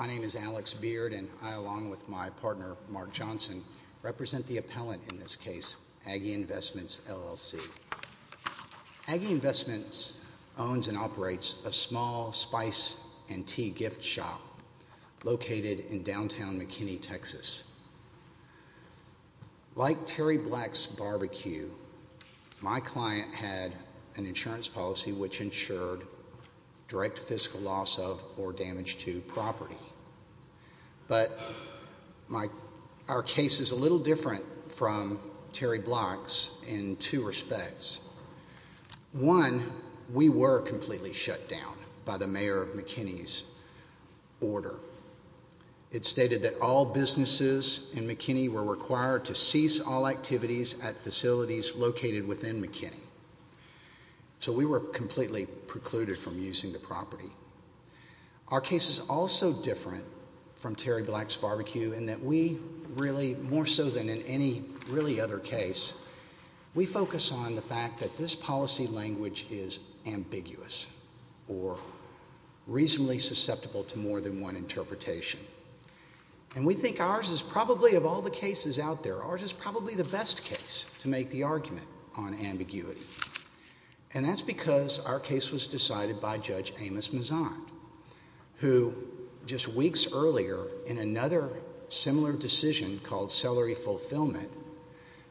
My name is Alex Beard and I, along with my partner Mark Johnson, represent the appellant in this case, Aggie Investments, LLC. Aggie Investments owns and operates a small spice and tea gift shop located in downtown McKinney, Texas. Like Terry Black's BBQ, my client had an insurance policy which insured direct fiscal loss of or damage to property. But our case is a little different from Terry Black's in two respects. One, we were completely shut down by the Mayor of McKinney's order. It stated that all businesses in McKinney were required to cease all activities at facilities located within McKinney. So, we were completely precluded from using the property. Our case is also different from Terry Black's BBQ in that we really, more so than in any really other case, we focus on the fact that this policy language is ambiguous or reasonably susceptible to more than one interpretation. And we think ours is probably, of all the cases out there, ours is probably the best case to make the argument on ambiguity. And that's because our case was decided by Judge Amos Mazzon, who just weeks earlier in another similar decision called Celery Fulfillment,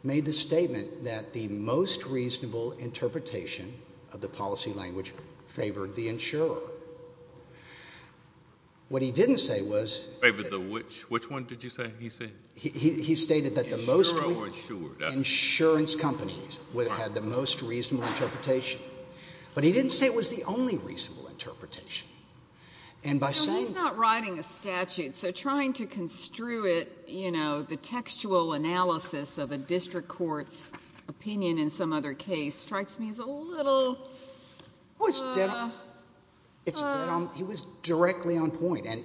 made the statement that the most reasonable interpretation of the policy language favored the insurer. What he didn't say was... Favored the which? Which one did you say he said? He stated that the most... Insurance companies had the most reasonable interpretation. But he didn't say it was the only reasonable interpretation. And by saying... He's not writing a statute, so trying to construe it, you know, the textual analysis of a district court's opinion in some other case strikes me as a little... He was directly on point, and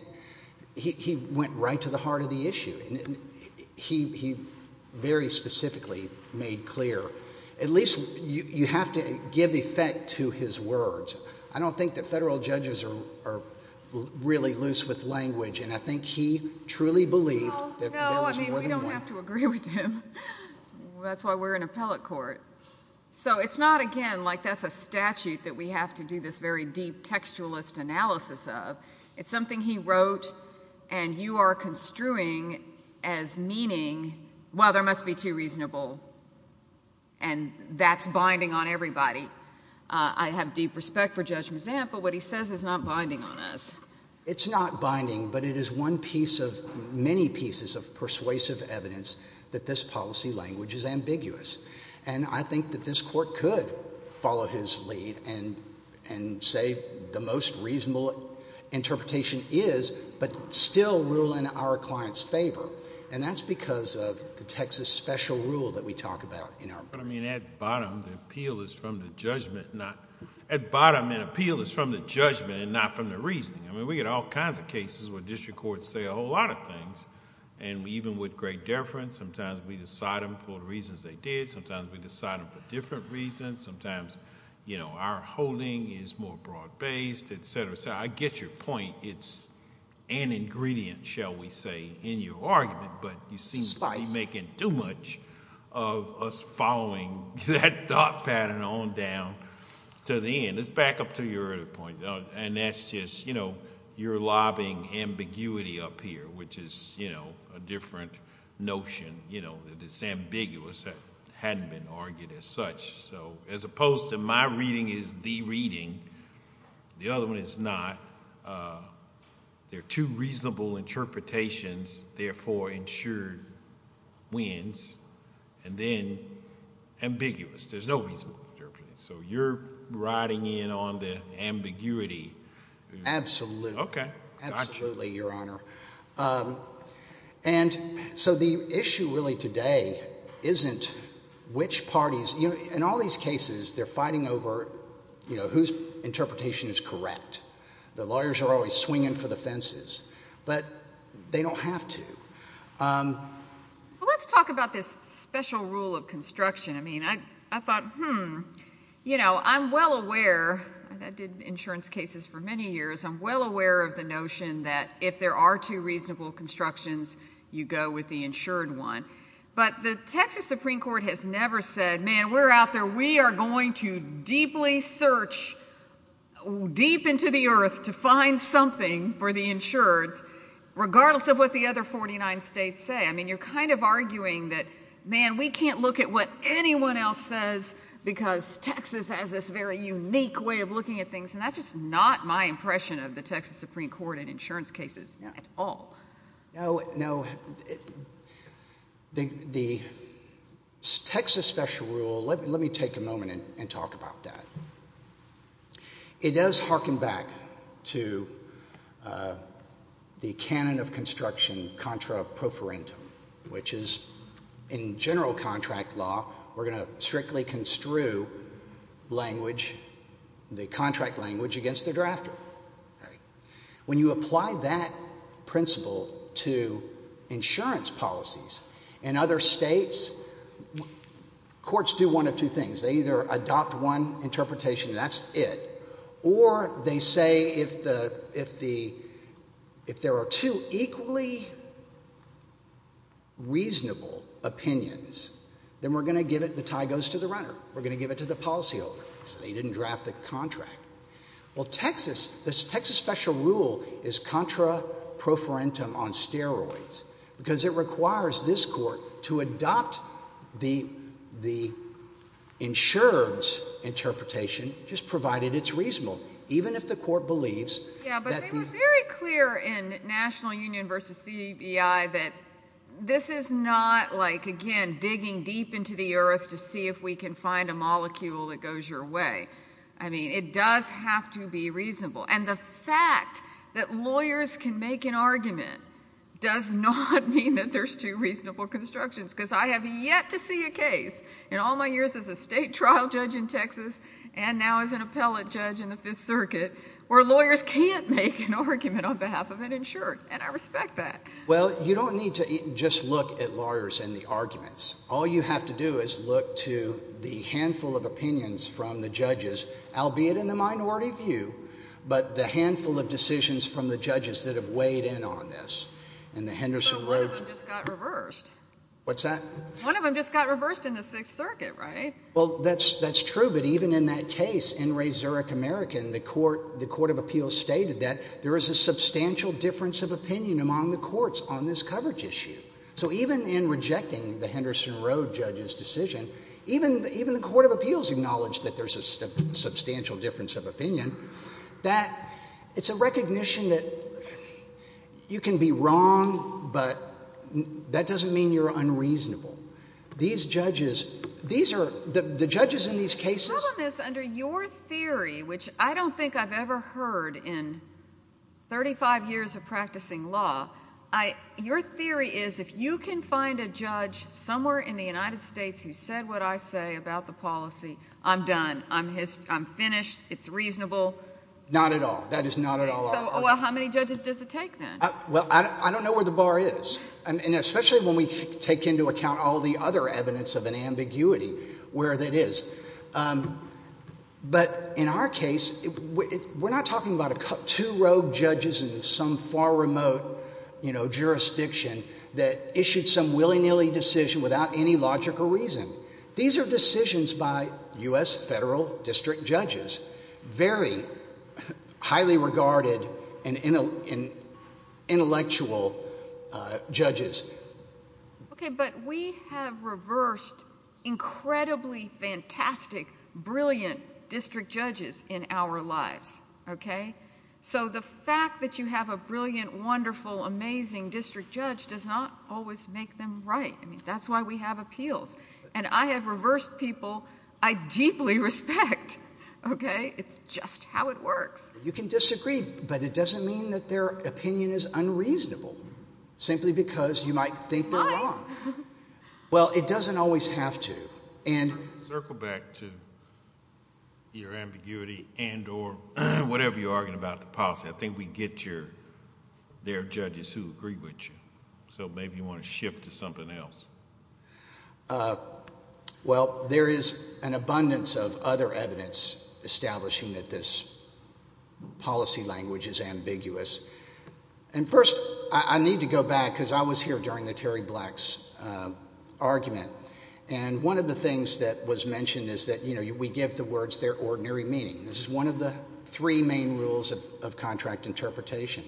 he went right to the heart of the issue. He very specifically made clear, at least you have to give effect to his words. I don't think that federal judges are really loose with language, and I think he truly believed that there was more than one. No, I mean, we don't have to agree with him. That's why we're an appellate court. So it's not, again, like that's a statute that we have to do this very deep textualist analysis of. It's something he wrote, and you are construing as meaning, well, there must be two reasonable, and that's binding on everybody. I have deep respect for Judge Mazam, but what he says is not binding on us. It's not binding, but it is one piece of... many pieces of persuasive evidence that this policy language is ambiguous. I think that this court could follow his lead and say the most reasonable interpretation is, but still rule in our client's favor, and that's because of the Texas special rule that we talk about in our... I mean, at bottom, the appeal is from the judgment, not... At bottom, an appeal is from the judgment and not from the reasoning. We get all kinds of cases where district courts say a whole lot of things, and even with great deference, sometimes we decide them for the reasons they did, sometimes we decide them for different reasons, sometimes our holding is more broad-based, et cetera, et cetera. I get your point. It's an ingredient, shall we say, in your argument, but you seem to be making too much of us following that thought pattern on down to the end. Let's back up to your other point, and that's just you're lobbying ambiguity up here, which is a different notion, that it's ambiguous, that it hadn't been argued as such. As opposed to my reading is the reading, the other one is not, there are two reasonable interpretations, therefore, ensured wins, and then ambiguous. There's no reasonable interpretation, so you're riding in on the ambiguity... Absolutely. Okay. Absolutely, Your Honor. And so the issue really today isn't which parties... in all these cases, they're fighting over whose interpretation is correct. The lawyers are always swinging for the fences, but they don't have to. Let's talk about this special rule of construction. I thought, hmm, I'm well aware, and I did insurance cases for many years, I'm well aware of the notion that if there are two reasonable constructions, you go with the insured one. But the Texas Supreme Court has never said, man, we're out there, we are going to deeply search deep into the earth to find something for the insureds, regardless of what the other 49 states say. I mean, you're kind of arguing that, man, we can't look at what anyone else says, because Texas has this very unique way of looking at things, and that's just not my impression of the Texas Supreme Court in insurance cases at all. No, no. The Texas special rule... let me take a moment and talk about that. It does hearken back to the canon of construction, contra pro forentum, which is in general contract law, we're going to strictly construe language, the contract language, against the insurer. When you apply that principle to insurance policies in other states, courts do one of two things. They either adopt one interpretation, and that's it, or they say if the, if the, if there are two equally reasonable opinions, then we're going to give it, the tie goes to the runner. We're going to give it to the policyholder. So they didn't draft the contract. Well, Texas, this Texas special rule is contra pro forentum on steroids, because it requires this court to adopt the, the insurer's interpretation, just provided it's reasonable, even if the court believes... Yeah, but they were very clear in National Union v. CEI that this is not like, again, digging deep into the earth to see if we can find a molecule that goes your way. I mean, it does have to be reasonable. And the fact that lawyers can make an argument does not mean that there's two reasonable constructions, because I have yet to see a case in all my years as a state trial judge in Texas, and now as an appellate judge in the Fifth Circuit, where lawyers can't make an argument on behalf of an insurer, and I respect that. Well, you don't need to just look at lawyers and the arguments. All you have to do is look to the handful of opinions from the judges, albeit in the minority view, but the handful of decisions from the judges that have weighed in on this. And the Henderson... But one of them just got reversed. What's that? One of them just got reversed in the Sixth Circuit, right? Well, that's, that's true, but even in that case, in Ray Zurich, America, in the court, the Court of Appeals stated that there is a substantial difference of opinion among the courts on this coverage issue. So even in rejecting the Henderson Road judge's decision, even, even the Court of Appeals acknowledged that there's a substantial difference of opinion, that it's a recognition that you can be wrong, but that doesn't mean you're unreasonable. These judges, these are, the judges in these cases... Well, Miss, under your theory, which I don't think I've ever heard in 35 years of practicing law, I, your theory is if you can find a judge somewhere in the United States who said what I say about the policy, I'm done, I'm finished, it's reasonable. Not at all. That is not at all. So, well, how many judges does it take then? Well, I don't know where the bar is, and especially when we take into account all the other evidence of an ambiguity, where that is. But in our case, we're not talking about two rogue judges in some far remote, you know, jurisdiction that issued some willy-nilly decision without any logical reason. These are decisions by U.S. federal district judges, very highly regarded and intellectual judges. Okay, but we have reversed incredibly fantastic, brilliant district judges in our lives, okay? So the fact that you have a brilliant, wonderful, amazing district judge does not always make them right. I mean, that's why we have appeals. And I have reversed people I deeply respect, okay? It's just how it works. You can disagree, but it doesn't mean that their opinion is unreasonable, simply because you might think they're wrong. Right. Well, it doesn't always have to, and... Circle back to your ambiguity and or whatever you're arguing about the policy. I think we get your, there are judges who agree with you, so maybe you want to shift to something else. Well, there is an abundance of other evidence establishing that this policy language is ambiguous. And first, I need to go back, because I was here during the Terry Black's argument. And one of the things that was mentioned is that, you know, we give the words their ordinary meaning. This is one of the three main rules of contract interpretation.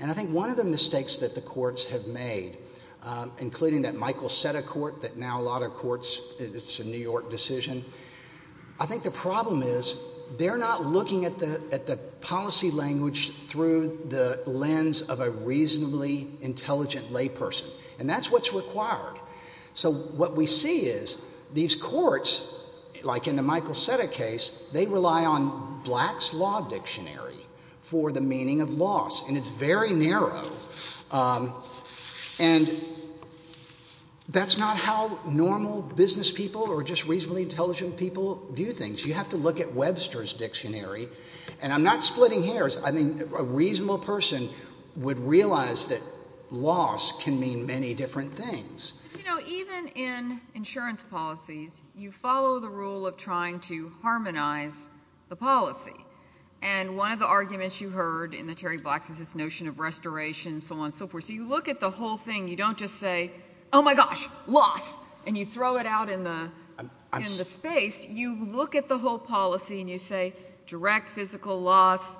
And I think one of the mistakes that the courts have made, including that Michael set a court that now a lot of courts, it's a New York decision. I think the problem is, they're not looking at the policy language through the lens of a reasonably intelligent layperson. And that's what's required. So what we see is, these courts, like in the Michael Seta case, they rely on Black's Law Dictionary for the meaning of loss, and it's very narrow. And that's not how normal business people or just reasonably intelligent people view things. You have to look at Webster's Dictionary. And I'm not splitting hairs. I mean, a reasonable person would realize that loss can mean many different things. But, you know, even in insurance policies, you follow the rule of trying to harmonize the policy. And one of the arguments you heard in the Terry Blacks is this notion of restoration, so on and so forth. So you look at the whole thing. You don't just say, oh my gosh, loss, and you throw it out in the space. You look at the whole policy, and you say direct physical loss,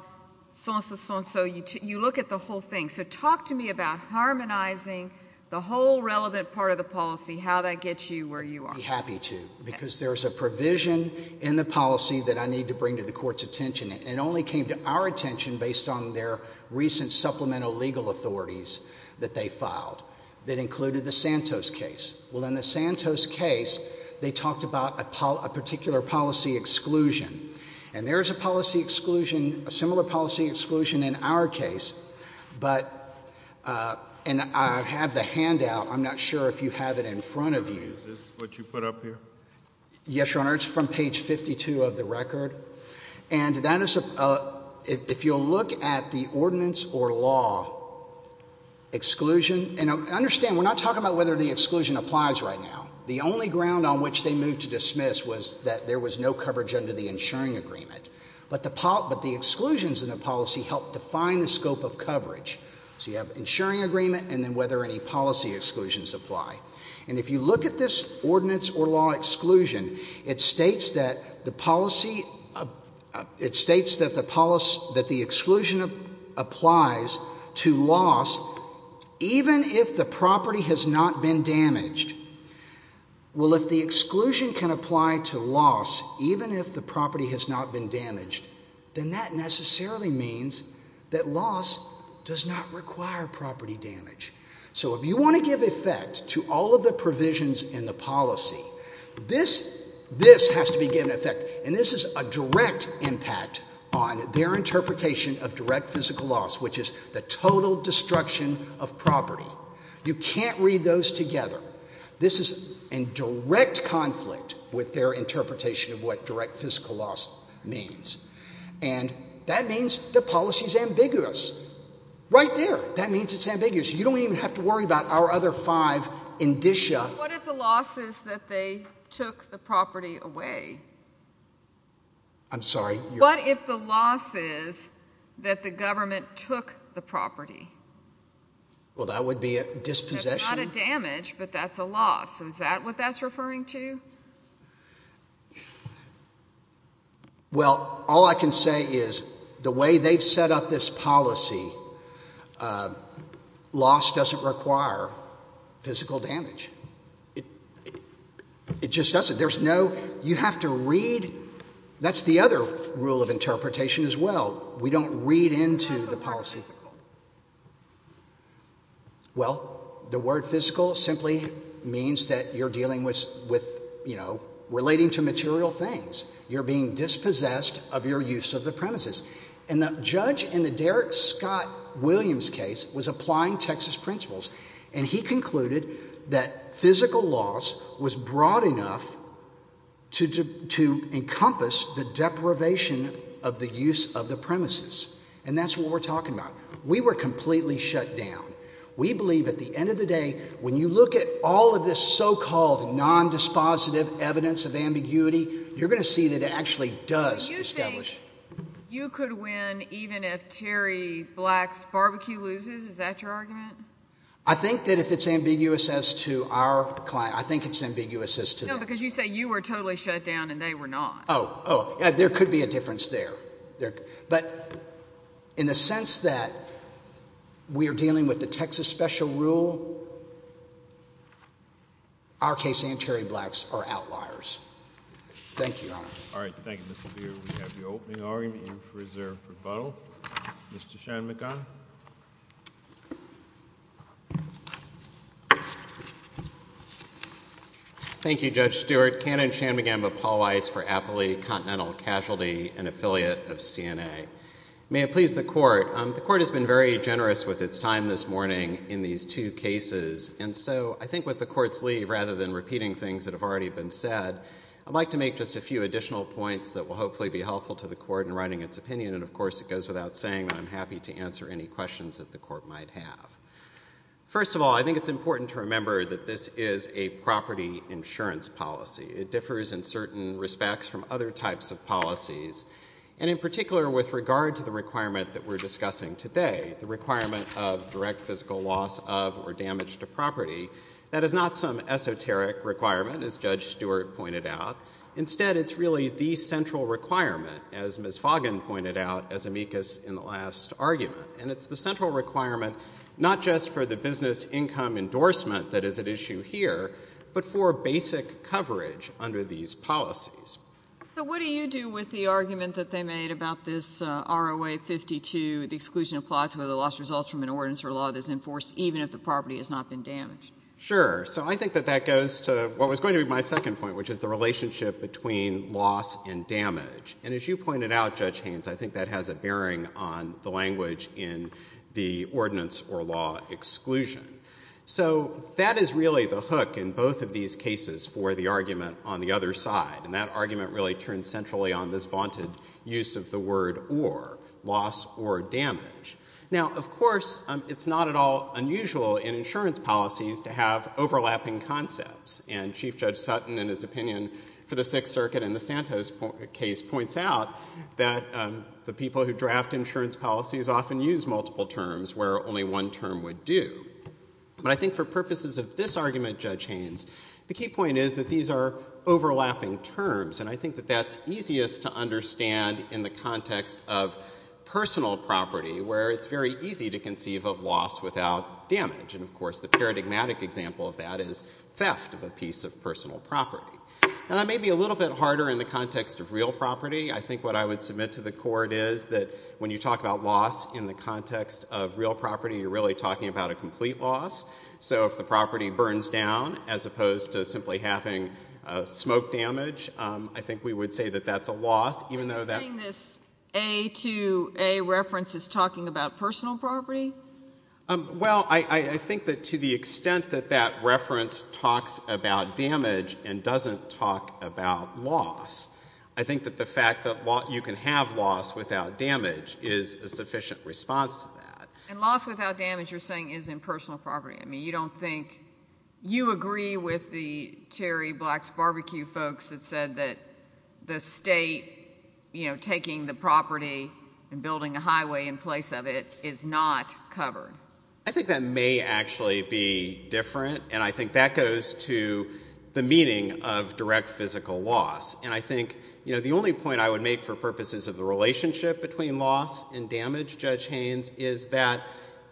so on and so forth. You look at the whole thing. So talk to me about harmonizing the whole relevant part of the policy, how that gets you where you are. I'd be happy to, because there's a provision in the policy that I need to bring to the attention, and it only came to our attention based on their recent supplemental legal authorities that they filed that included the Santos case. Well, in the Santos case, they talked about a particular policy exclusion. And there is a policy exclusion, a similar policy exclusion in our case, but, and I have the handout. I'm not sure if you have it in front of you. Is this what you put up here? Yes, Your Honor. It's from page 52 of the record. And that is, if you'll look at the ordinance or law exclusion, and understand, we're not talking about whether the exclusion applies right now. The only ground on which they moved to dismiss was that there was no coverage under the insuring agreement. But the exclusions in the policy helped define the scope of coverage. So you have insuring agreement, and then whether any policy exclusions apply. And if you look at this ordinance or law exclusion, it states that the policy, it states that the policy, that the exclusion applies to loss even if the property has not been damaged. Well, if the exclusion can apply to loss even if the property has not been damaged, then that necessarily means that loss does not require property damage. So if you want to give effect to all of the provisions in the policy, this, this has to be given effect. And this is a direct impact on their interpretation of direct physical loss, which is the total destruction of property. You can't read those together. This is in direct conflict with their interpretation of what direct physical loss means. And that means the policy is ambiguous. Right there. That means it's ambiguous. You don't even have to worry about our other five indicia. What if the loss is that they took the property away? I'm sorry. What if the loss is that the government took the property? Well that would be a dispossession. That's not a damage, but that's a loss. Is that what that's referring to? Well, all I can say is the way they've set up this policy, loss doesn't require physical damage. It just doesn't. There's no, you have to read. That's the other rule of interpretation as well. We don't read into the policy. Well, the word physical simply means that you're dealing with, you know, relating to material things. You're being dispossessed of your use of the premises. And the judge in the Derrick Scott Williams case was applying Texas principles and he concluded that physical loss was broad enough to encompass the deprivation of the use of the premises. And that's what we're talking about. We were completely shut down. We believe at the end of the day, when you look at all of this so-called non-dispositive evidence of ambiguity, you're going to see that it actually does establish. You think you could win even if Terry Black's barbecue loses? Is that your argument? I think that if it's ambiguous as to our client, I think it's ambiguous as to them. No, because you say you were totally shut down and they were not. Oh, oh. There could be a difference there. But in the sense that we're dealing with the Texas special rule, our case and Terry Black's are outliers. Thank you, Your Honor. All right. Thank you, Mr. Beard. We have the opening argument in reserve for rebuttal. Mr. Shanmugam. Thank you, Judge Stewart. Canon Shanmugam of Paul Weiss for Appalachian Continental Casualty, an affiliate of CNA. May it please the Court. The Court has been very generous with its time this morning in these two cases. And so I think with the Court's leave, rather than repeating things that have already been said, I'd like to make just a few additional points that will hopefully be helpful to the Court in writing its opinion. And of course, it goes without saying that I'm happy to answer any questions that the Court might have. First of all, I think it's important to remember that this is a property insurance policy. It differs in certain respects from other types of policies. And in particular, with regard to the requirement that we're discussing today, the requirement of direct physical loss of or damage to property, that is not some esoteric requirement, as Judge Stewart pointed out. Instead, it's really the central requirement, as Ms. Foggin pointed out as amicus in the last argument. And it's the central requirement, not just for the business income endorsement that is at issue here, but for basic coverage under these policies. So what do you do with the argument that they made about this ROA 52, the exclusion of plots where the loss results from an ordinance or law that's enforced even if the property has not been damaged? Sure. So I think that that goes to what was going to be my second point, which is the relationship between loss and damage. And as you pointed out, Judge Haynes, I think that has a bearing on the language in the ordinance or law exclusion. So that is really the hook in both of these cases for the argument on the other side. And that argument really turns centrally on this vaunted use of the word or, loss or damage. Now, of course, it's not at all unusual in insurance policies to have overlapping concepts. And Chief Judge Sutton, in his opinion for the Sixth Circuit in the Santos case, points out that the people who draft insurance policies often use multiple terms where only one term would do. But I think for purposes of this argument, Judge Haynes, the key point is that these are overlapping terms. And I think that that's easiest to understand in the context of personal property where it's very easy to conceive of loss without damage. And, of course, the paradigmatic example of that is theft of a piece of personal property. Now, that may be a little bit harder in the context of real property. I think what I would submit to the Court is that when you talk about loss in the context of real property, you're really talking about a complete loss. So if the property burns down as opposed to simply having smoke damage, I think we would say that that's a loss, even though that's... Are you saying this A to A reference is talking about personal property? Well, I think that to the extent that that reference talks about damage and doesn't talk about loss, I think that the fact that you can have loss without damage is a sufficient response to that. And loss without damage, you're saying, is in personal property. I mean, you don't think... You agree with the Terry Black's Barbecue folks that said that the state, you know, taking the property and building a highway in place of it is not covered? I think that may actually be different. And I think that goes to the meaning of direct physical loss. And I think, you know, the only point I would make for purposes of the relationship between loss and damage, Judge Haynes, is that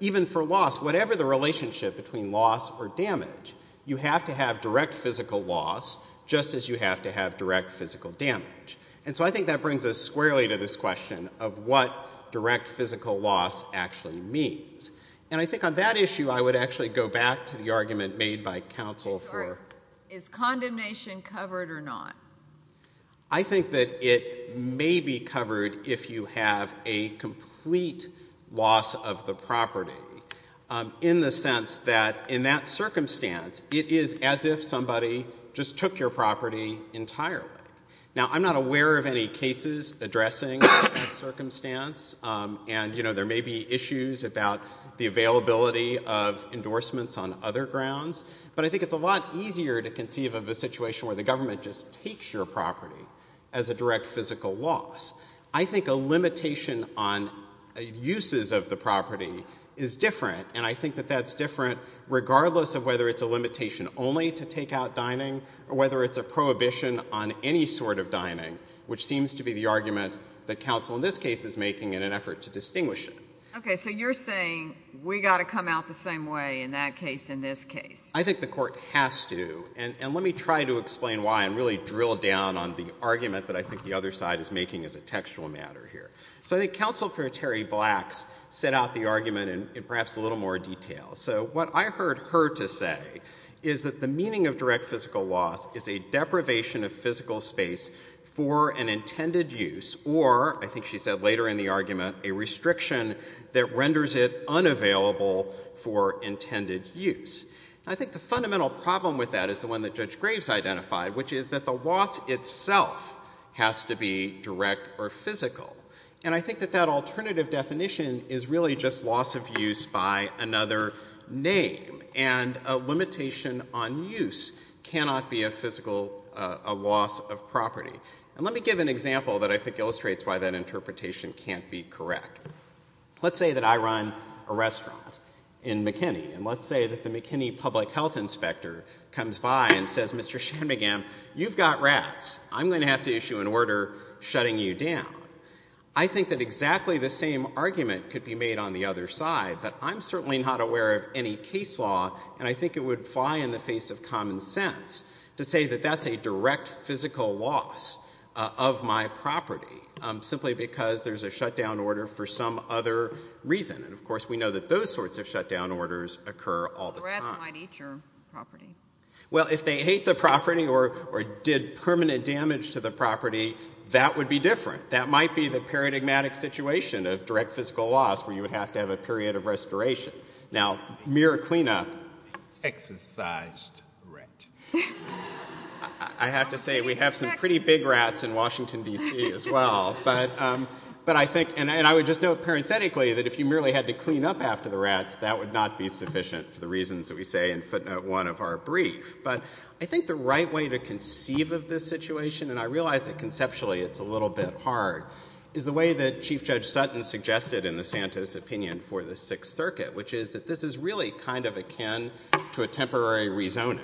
even for loss, whatever the relationship between loss or damage, you have to have direct physical loss just as you have to have direct physical damage. And so I think that brings us squarely to this question of what direct physical loss actually means. And I think on that issue, I would actually go back to the argument made by counsel for... Is condemnation covered or not? I think that it may be covered if you have a complete loss of the property in the sense that in that circumstance, it is as if somebody just took your property entirely. Now, I'm not aware of any cases addressing that circumstance, and, you know, there may be issues about the availability of endorsements on other grounds, but I think it's a lot easier to conceive of a situation where the government just takes your property as a direct physical loss. I think a limitation on uses of the property is different, and I think that that's different regardless of whether it's a limitation only to take out dining or whether it's a prohibition on any sort of dining, which seems to be the argument that counsel in this case is making in an effort to distinguish it. Okay. So you're saying we got to come out the same way in that case and this case. I think the court has to, and let me try to explain why and really drill down on the argument that I think the other side is making as a textual matter here. So I think counsel for Terry Blacks set out the argument in perhaps a little more detail. So what I heard her to say is that the meaning of direct physical loss is a deprivation of physical space for an intended use or, I think she said later in the argument, a restriction that renders it unavailable for intended use. I think the fundamental problem with that is the one that Judge Graves identified, which is that the loss itself has to be direct or physical. And I think that that alternative definition is really just loss of use by another name and a limitation on use cannot be a physical loss of property. And let me give an example that I think illustrates why that interpretation can't be correct. Let's say that I run a restaurant in McKinney and let's say that the McKinney public health inspector comes by and says, Mr. Shanmugam, you've got rats. I'm going to have to issue an order shutting you down. I think that exactly the same argument could be made on the other side, but I'm certainly not aware of any case law and I think it would fly in the face of common sense to say that that's a direct physical loss of my property simply because there's a shutdown order for some other reason. And, of course, we know that those sorts of shutdown orders occur all the time. Rats might eat your property. Well, if they ate the property or did permanent damage to the property, that would be different. That might be the paradigmatic situation of direct physical loss where you would have to have a period of restoration. Now, mere cleanup. Exorcised rat. I have to say we have some pretty big rats in Washington, D.C. as well. But I think, and I would just note parenthetically that if you merely had to clean up after the rats, that would not be sufficient for the reasons that we say in footnote one of our brief. But I think the right way to conceive of this situation, and I realize that conceptually it's a little bit hard, is the way that Chief Judge Sutton suggested in the Santos opinion for the Sixth Circuit, which is that this is really kind of akin to a temporary rezoning.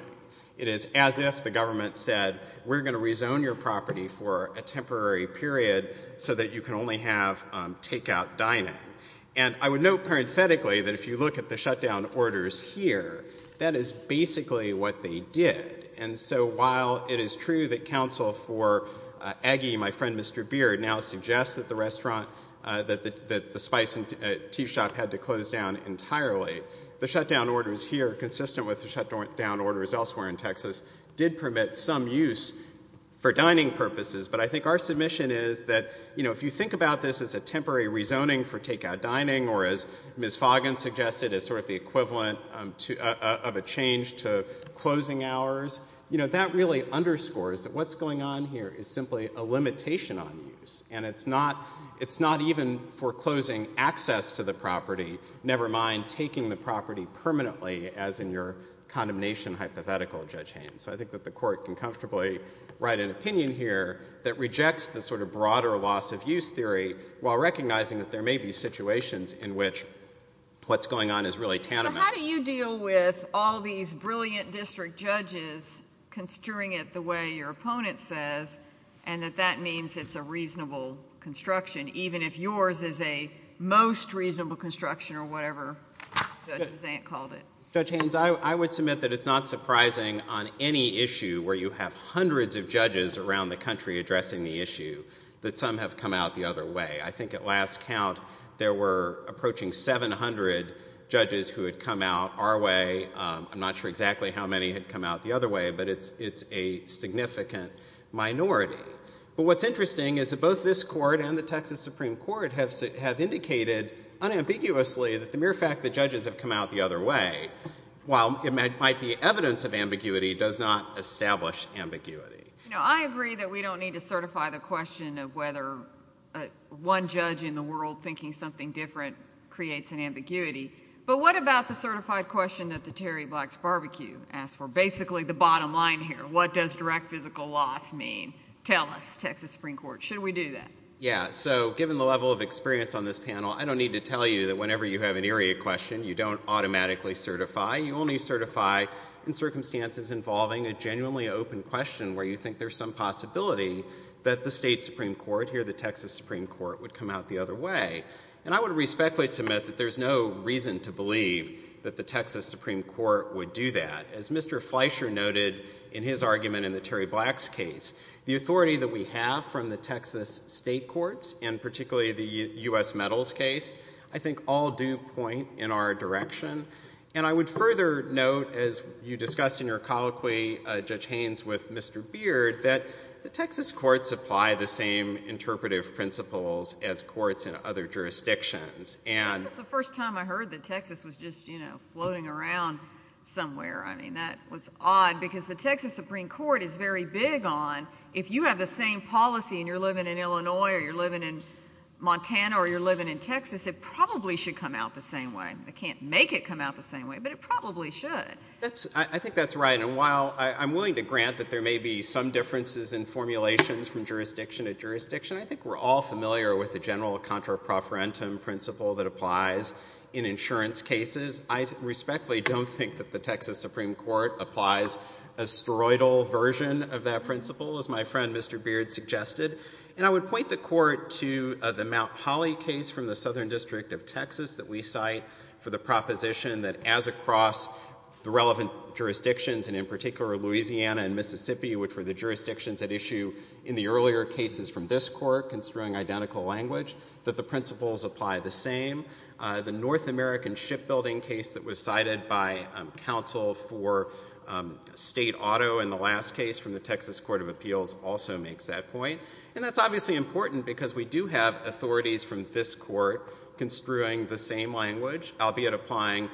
It is as if the government said, we're going to rezone your property for a temporary period so that you can only have takeout dining. And I would note parenthetically that if you look at the shutdown orders here, that is basically what they did. And so while it is true that counsel for Aggie, my friend Mr. Beard, now suggests that the restaurant, that the spice and tea shop had to close down entirely, the shutdown orders here consistent with the shutdown orders elsewhere in Texas did permit some use for dining purposes. But I think our submission is that, you know, if you think about this as a temporary rezoning for takeout dining or as Ms. Foggin suggested as sort of the equivalent of a change to closing hours, you know, that really underscores that what's going on here is simply a limitation on use. And it's not even foreclosing access to the property, never mind taking the property permanently as in your condemnation hypothetical, Judge Haynes. So I think that the Court can comfortably write an opinion here that rejects the sort of broader loss of use theory while recognizing that there may be situations in which what's going on is really tanimous. So how do you deal with all these brilliant district judges construing it the way your opponent says and that that means it's a reasonable construction, even if yours is a most reasonable construction or whatever Judge Mazzant called it? Judge Haynes, I would submit that it's not surprising on any issue where you have hundreds of judges around the country addressing the issue that some have come out the other way. I think at last count there were approaching 700 judges who had come out our way. I'm not sure exactly how many had come out the other way, but it's a significant minority. But what's interesting is that both this Court and the Texas Supreme Court have indicated unambiguously that the mere fact that judges have come out the other way, while it might be evidence of ambiguity, does not establish ambiguity. You know, I agree that we don't need to certify the question of whether one judge in the world thinking something different creates an ambiguity, but what about the certified question that the Terry Black's Barbecue asked for? Basically the bottom line here, what does direct physical loss mean? Tell us, Texas Supreme Court. Should we do that? Yeah. So given the level of experience on this panel, I don't need to tell you that whenever you have an area question, you don't automatically certify. You only certify in circumstances involving a genuinely open question where you think there's some possibility that the state Supreme Court, here the Texas Supreme Court, would come out the other way. And I would respectfully submit that there's no reason to believe that the Texas Supreme Court would do that. As Mr. Fleischer noted in his argument in the Terry Black's case, the authority that we have from the Texas state courts, and particularly the U.S. Medals case, I think all do point in our direction. And I would further note, as you discussed in your colloquy, Judge Haynes, with Mr. Beard, that the Texas courts apply the same interpretive principles as courts in other jurisdictions. This was the first time I heard that Texas was just floating around somewhere. I mean, that was odd because the Texas Supreme Court is very big on if you have the same policy and you're living in Illinois or you're living in Montana or you're living in Texas, it probably should come out the same way. They can't make it come out the same way, but it probably should. I think that's right. And while I'm willing to grant that there may be some differences in formulations from jurisdiction to jurisdiction, I think we're all familiar with the general contra-proferentum principle that applies in insurance cases. I respectfully don't think that the Texas Supreme Court applies a steroidal version of that principle, as my friend Mr. Beard suggested. And I would point the court to the Mount Holly case from the Southern District of Texas that we cite for the proposition that as across the relevant jurisdictions, and in particular Louisiana and Mississippi, which were the jurisdictions at issue in the earlier cases from this court construing identical language, that the principles apply the same. The North American shipbuilding case that was cited by counsel for state auto in the last case from the Texas Court of Appeals also makes that point. And that's obviously important because we do have authorities from this court construing the same language, albeit applying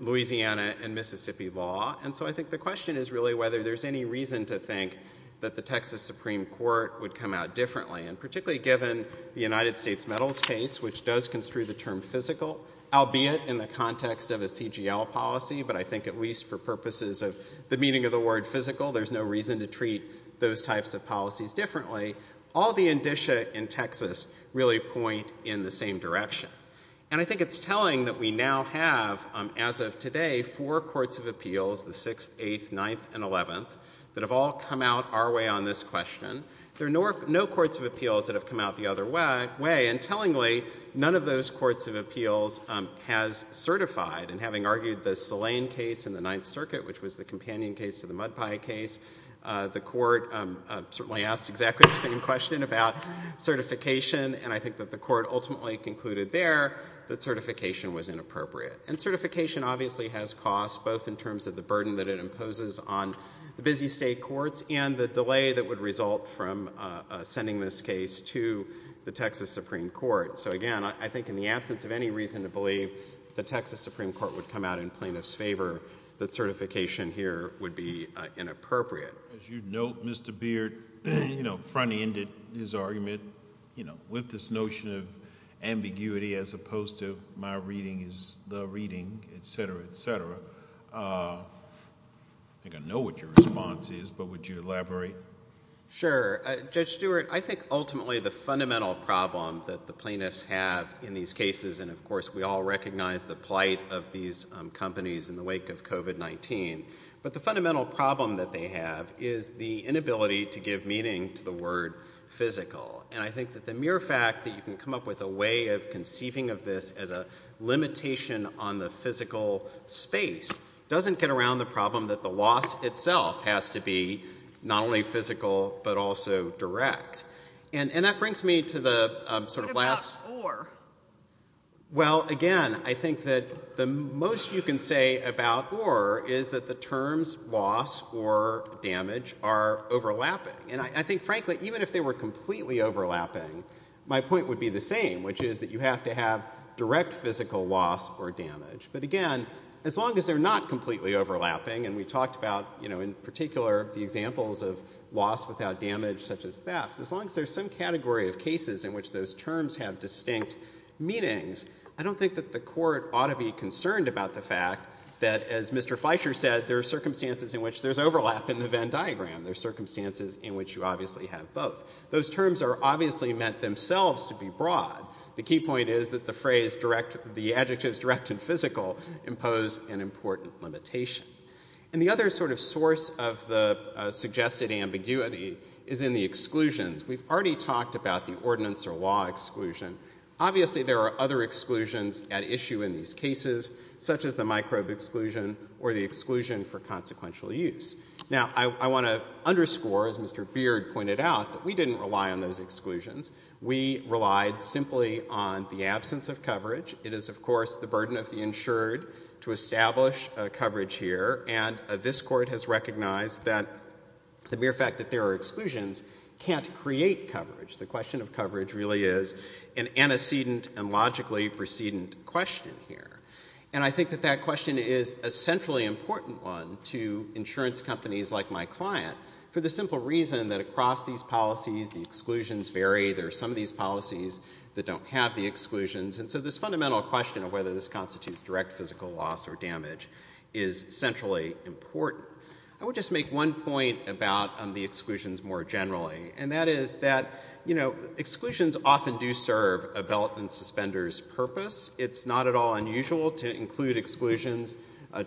Louisiana and Mississippi law. And so I think the question is really whether there's any reason to think that the Texas Supreme Court would come out differently. And particularly given the United States Metals case, which does construe the term physical, albeit in the context of a CGL policy, but I think at least for purposes of the meaning of the word physical, there's no reason to treat those types of policies differently, all the indicia in Texas really point in the same direction. And I think it's telling that we now have, as of today, four courts of appeals, the Sixth, Eighth, Ninth, and Eleventh, that have all come out our way on this question. There are no courts of appeals that have come out the other way. And tellingly, none of those courts of appeals has certified. And having argued the Sillane case in the Ninth Circuit, which was the companion case to the Mud Pie case, the court certainly asked exactly the same question about certification. And I think that the court ultimately concluded there that certification was inappropriate. And certification obviously has costs, both in terms of the burden that it imposes on the busy state courts and the delay that would result from sending this case to the Texas Supreme Court. So again, I think in the absence of any reason to believe the Texas Supreme Court would come out in plaintiff's favor, that certification here would be inappropriate. As you note, Mr. Beard, you know, front-ended his argument, you know, with this notion of ambiguity as opposed to my reading is the reading, et cetera, et cetera. I think I know what your response is, but would you elaborate? Sure. Judge Stewart, I think ultimately the fundamental problem that the plaintiffs have in these cases, and of course we all recognize the plight of these companies in the wake of COVID-19, but the fundamental problem that they have is the inability to give meaning to the word physical. And I think that the mere fact that you can come up with a way of conceiving of this as a limitation on the physical space doesn't get around the problem that the loss itself has to be not only physical, but also direct. What about or? Well, again, I think that the most you can say about or is that the terms loss or damage are overlapping. And I think, frankly, even if they were completely overlapping, my point would be the same, which is that you have to have direct physical loss or damage. But again, as long as they're not completely overlapping, and we talked about, you know, in particular the examples of loss without damage such as theft, as long as there's some things, I don't think that the court ought to be concerned about the fact that, as Mr. Feicher said, there are circumstances in which there's overlap in the Venn diagram. There's circumstances in which you obviously have both. Those terms are obviously meant themselves to be broad. The key point is that the phrase direct, the adjectives direct and physical impose an important limitation. And the other sort of source of the suggested ambiguity is in the exclusions. We've already talked about the ordinance or law exclusion. Obviously, there are other exclusions at issue in these cases, such as the microbe exclusion or the exclusion for consequential use. Now, I want to underscore, as Mr. Beard pointed out, that we didn't rely on those exclusions. We relied simply on the absence of coverage. It is, of course, the burden of the insured to establish coverage here. And this court has recognized that the mere fact that there are exclusions can't create coverage. The question of coverage really is an antecedent and logically precedent question here. And I think that that question is a centrally important one to insurance companies like my client for the simple reason that across these policies, the exclusions vary. There are some of these policies that don't have the exclusions. And so this fundamental question of whether this constitutes direct physical loss or damage is centrally important. I would just make one point about the exclusions more generally. And that is that, you know, exclusions often do serve a belt and suspenders purpose. It's not at all unusual to include exclusions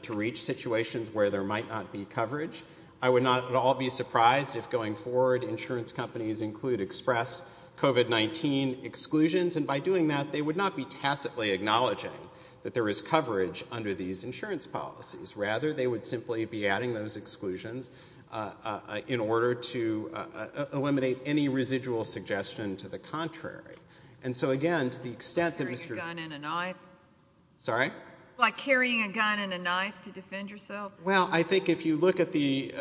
to reach situations where there might not be coverage. I would not at all be surprised if going forward insurance companies include express COVID-19 exclusions. And by doing that, they would not be tacitly acknowledging that there is coverage under these insurance policies. Rather, they would simply be adding those exclusions in order to eliminate any residual suggestion to the contrary. And so, again, to the extent that Mr. — Like carrying a gun and a knife? Sorry? Like carrying a gun and a knife to defend yourself? Well, I think if you look at the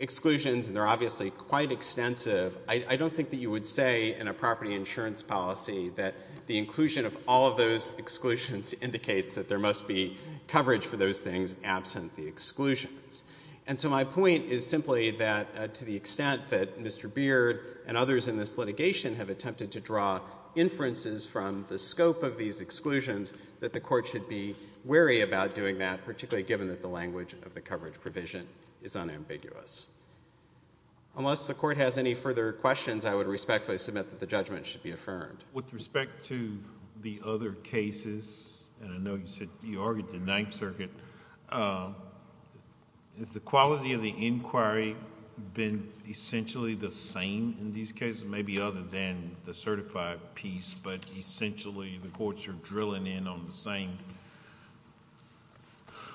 exclusions, and they're obviously quite extensive, I don't think that you would say in a property insurance policy that the inclusion of all of those exclusions indicates that there must be coverage for those things absent the exclusions. And so my point is simply that to the extent that Mr. Beard and others in this litigation have attempted to draw inferences from the scope of these exclusions, that the court should be wary about doing that, particularly given that the language of the coverage provision is unambiguous. Unless the court has any further questions, I would respectfully submit that the judgment should be affirmed. With respect to the other cases, and I know you argued the Ninth Circuit, has the quality of the inquiry been essentially the same in these cases, maybe other than the certified piece, but essentially the courts are drilling in on the same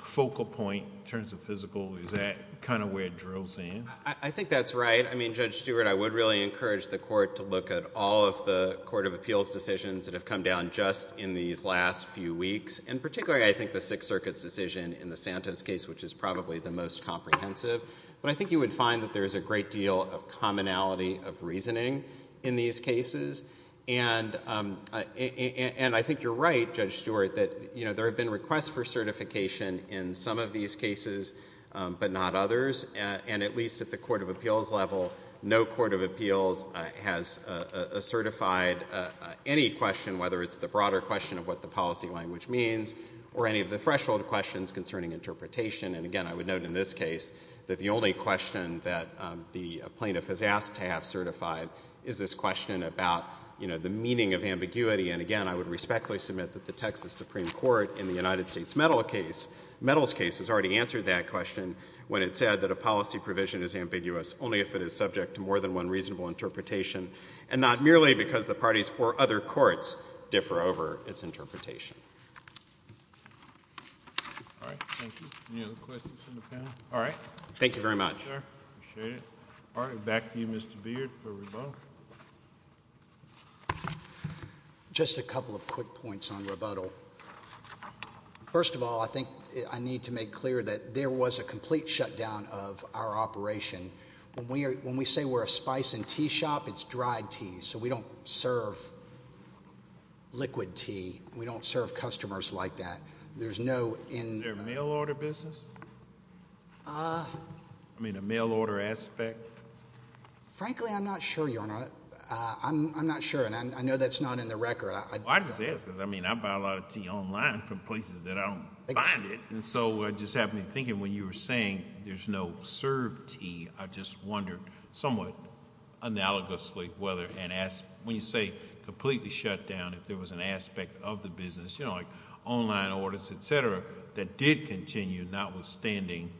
focal point in terms of physical? Is that kind of where it drills in? I think that's right. I mean, Judge Stewart, I would really encourage the court to look at all of the court of appeals decisions that have come down just in these last few weeks, and particularly I think the Sixth Circuit's decision in the Santos case, which is probably the most comprehensive. But I think you would find that there is a great deal of commonality of reasoning in these cases. And I think you're right, Judge Stewart, that there have been requests for certification in some of these cases, but not others. And at least at the court of appeals level, no court of appeals has certified any question, whether it's the broader question of what the policy language means, or any of the threshold questions concerning interpretation. And again, I would note in this case that the only question that the plaintiff has asked to have certified is this question about the meaning of ambiguity. And again, I would respectfully submit that the Texas Supreme Court in the United States Metals case has already answered that question when it said that a policy provision is ambiguous only if it is subject to more than one reasonable interpretation, and not merely because the parties or other courts differ over its interpretation. All right. Thank you. Any other questions from the panel? All right. Thank you very much. Appreciate it. All right. Back to you, Mr. Beard, for rebuttal. Just a couple of quick points on rebuttal. First of all, I think I need to make clear that there was a complete shutdown of our operation. When we say we're a spice and tea shop, it's dried tea, so we don't serve liquid tea. We don't serve customers like that. There's no in- Is there a mail order business? I mean, a mail order aspect? Frankly, I'm not sure, Your Honor. I'm not sure, and I know that's not in the record. I just ask, because I mean, I buy a lot of tea online from places that I don't find it, and so it just had me thinking when you were saying there's no served tea, I just wondered somewhat analogously whether, and when you say completely shut down, if there was an aspect of the business, you know, like online orders, et cetera, that did continue notwithstanding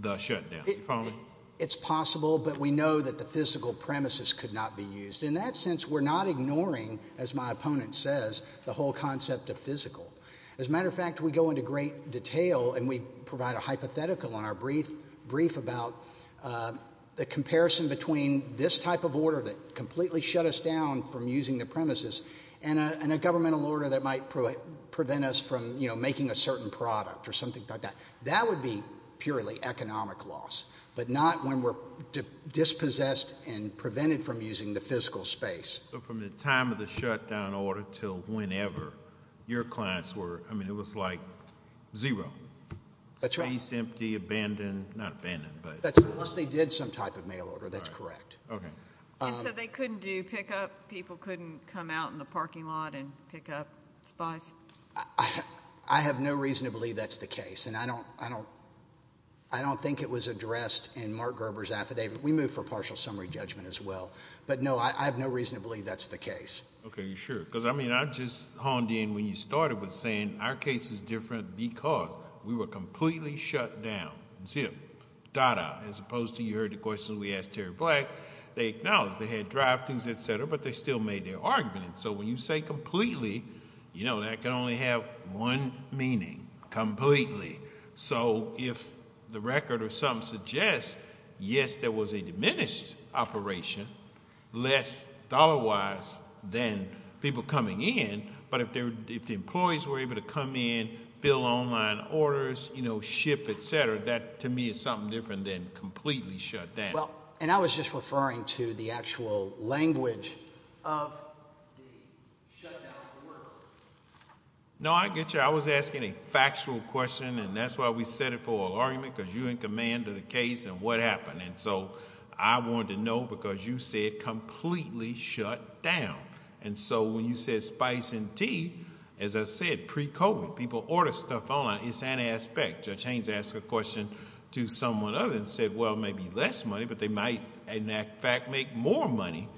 the shutdown. Do you follow me? It's possible, but we know that the physical premises could not be used. In that sense, we're not ignoring, as my opponent says, the whole concept of physical. As a matter of fact, we go into great detail, and we provide a hypothetical on our brief about the comparison between this type of order that completely shut us down from using the premises and a governmental order that might prevent us from, you know, making a certain product or something like that. That would be purely economic loss, but not when we're dispossessed and prevented from using the physical space. So from the time of the shutdown order till whenever, your clients were, I mean, it was like zero. That's right. Space, empty, abandoned, not abandoned, but... Unless they did some type of mail order, that's correct. Okay. And so they couldn't do pickup, people couldn't come out in the parking lot and pick up spies? I have no reason to believe that's the case, and I don't think it was addressed in Mark Gerber's affidavit. We moved for partial summary judgment as well, but no, I have no reason to believe that's the case. Okay. You're sure? Because, I mean, I just honed in when you started with saying our case is different because we were completely shut down, zip, da-da, as opposed to you heard the questions we asked Terry Black, they acknowledged they had drive-thrus, et cetera, but they still made their argument. And so when you say completely, you know, that can only have one meaning, completely. So if the record or something suggests, yes, there was a diminished operation, less dollar-wise than people coming in, but if the employees were able to come in, fill online orders, you know, ship, et cetera, that, to me, is something different than completely shut down. Well, and I was just referring to the actual language of the shutdown order. No, I get you. I was asking a factual question, and that's why we set it for an argument, because you in command of the case and what happened. And so I wanted to know, because you said completely shut down. And so when you said spice and tea, as I said, pre-COVID, people order stuff online, it's an aspect. Judge Haynes asked a question to someone other than said, well, maybe less money, but they might in fact make more money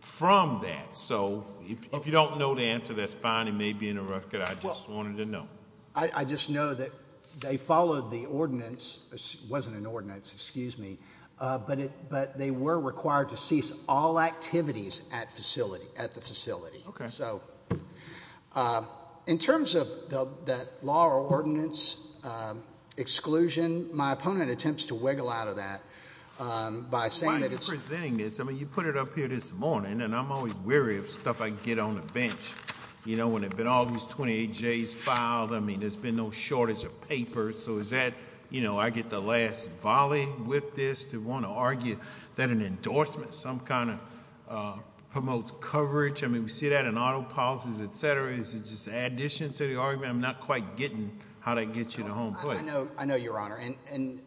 from that. So if you don't know the answer, that's fine. It may be interrupted. I just wanted to know. I just know that they followed the ordinance, it wasn't an ordinance, excuse me, but they were required to cease all activities at the facility. Okay. So in terms of that law or ordinance exclusion, my opponent attempts to wiggle out of that by saying that it's... Why are you presenting this? I mean, you put it up here this morning, and I'm always weary of stuff I get on the bench, you know, when they've been all these 28Js filed, I mean, there's been no shortage of papers. So is that, you know, I get the last volley with this to want to argue that an endorsement some kind of promotes coverage? I mean, we see that in auto policies, et cetera, is it just an addition to the argument? I'm not quite getting how that gets you to home plate. I know, Your Honor, and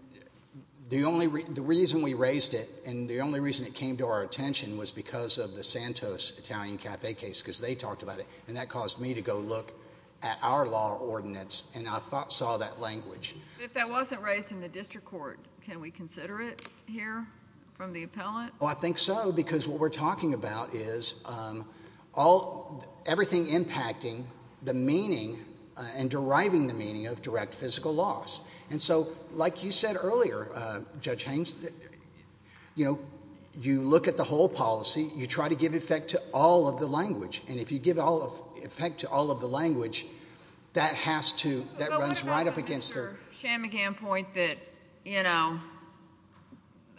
the reason we raised it and the only reason it came to our attention was because of the Santos Italian Cafe case, because they talked about it, and that caused me to go look at our law or ordinance, and I saw that language. If that wasn't raised in the district court, can we consider it here from the appellate? Well, I think so, because what we're talking about is everything impacting the meaning and deriving the meaning of direct physical loss. And so, like you said earlier, Judge Haines, you know, you look at the whole policy. You try to give effect to all of the language, and if you give effect to all of the language, that has to, that runs right up against their... Well, what about your Chamagian point that, you know,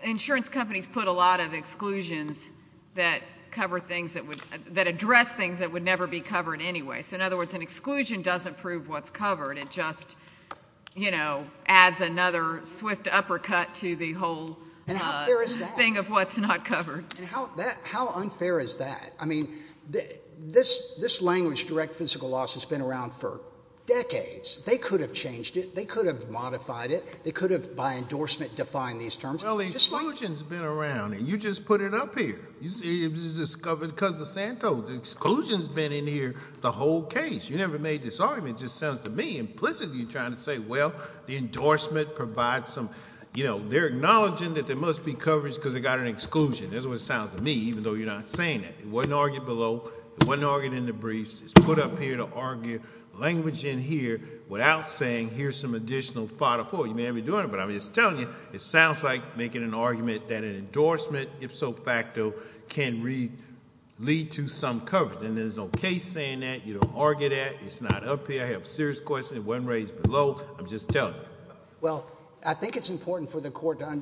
insurance companies put a lot of exclusions that cover things that would, that address things that would never be covered anyway. So in other words, an exclusion doesn't prove what's covered. It just, you know, adds another swift uppercut to the whole thing of what's not covered. And how fair is that? How unfair is that? I mean, this language, direct physical loss, has been around for decades. They could have changed it. They could have modified it. They could have, by endorsement, defined these terms. Well, the exclusion's been around, and you just put it up here. It was discovered because of Santos. Exclusion's been in here the whole case. You never made this argument. It just sounds to me, implicitly, you're trying to say, well, the endorsement provides some, you know, they're acknowledging that there must be coverage because they got an exclusion. That's what it sounds to me, even though you're not saying that. It wasn't argued below. It wasn't argued in the briefs. It's put up here to argue language in here without saying, here's some additional fodder for it. You may have been doing it, but I'm just telling you, it sounds like making an argument that an endorsement, if so facto, can lead to some coverage, and there's no case saying that. You don't argue that. It's not up here. I have serious questions. It wasn't raised below. I'm just telling you. Well, I think it's important for the court to,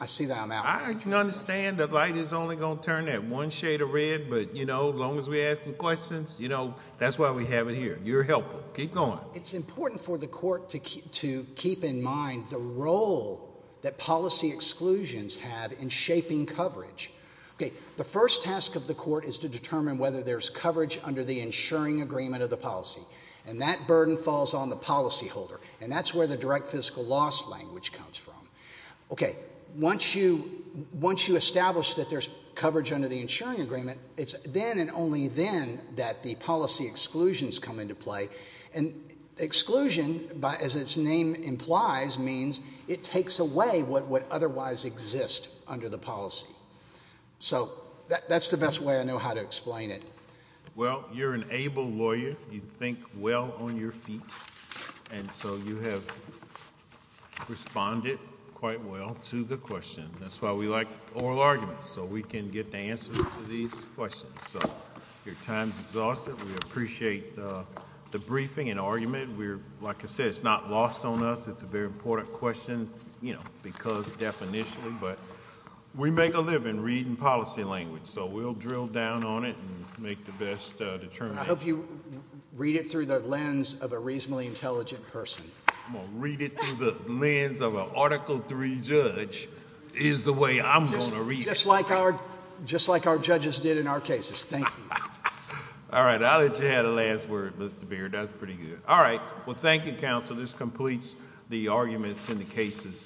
I see that I'm out. I understand the light is only going to turn that one shade of red, but, you know, as long as we're asking questions, you know, that's why we have it here. You're helpful. Keep going. It's important for the court to keep in mind the role that policy exclusions have in shaping coverage. Okay, the first task of the court is to determine whether there's coverage under the insuring agreement of the policy, and that burden falls on the policyholder, and that's where the direct fiscal loss language comes from. Okay, once you establish that there's coverage under the insuring agreement, it's then and only then that the policy exclusions come into play, and exclusion, as its name implies, means it takes away what would otherwise exist under the policy. So that's the best way I know how to explain it. Well, you're an able lawyer. You think well on your feet, and so you have responded quite well to the question. That's why we like oral arguments, so we can get the answer to these questions. So your time's exhausted. We appreciate the briefing and argument. Like I said, it's not lost on us. It's a very important question, you know, because definition, but we make a living reading policy language. So we'll drill down on it and make the best determination. I hope you read it through the lens of a reasonably intelligent person. I'm going to read it through the lens of an Article III judge is the way I'm going to read it. Just like our judges did in our cases. Thank you. All right, I'll let you have the last word, Mr. Beard. That's pretty good. All right, well, thank you, counsel. This completes the arguments in the cases.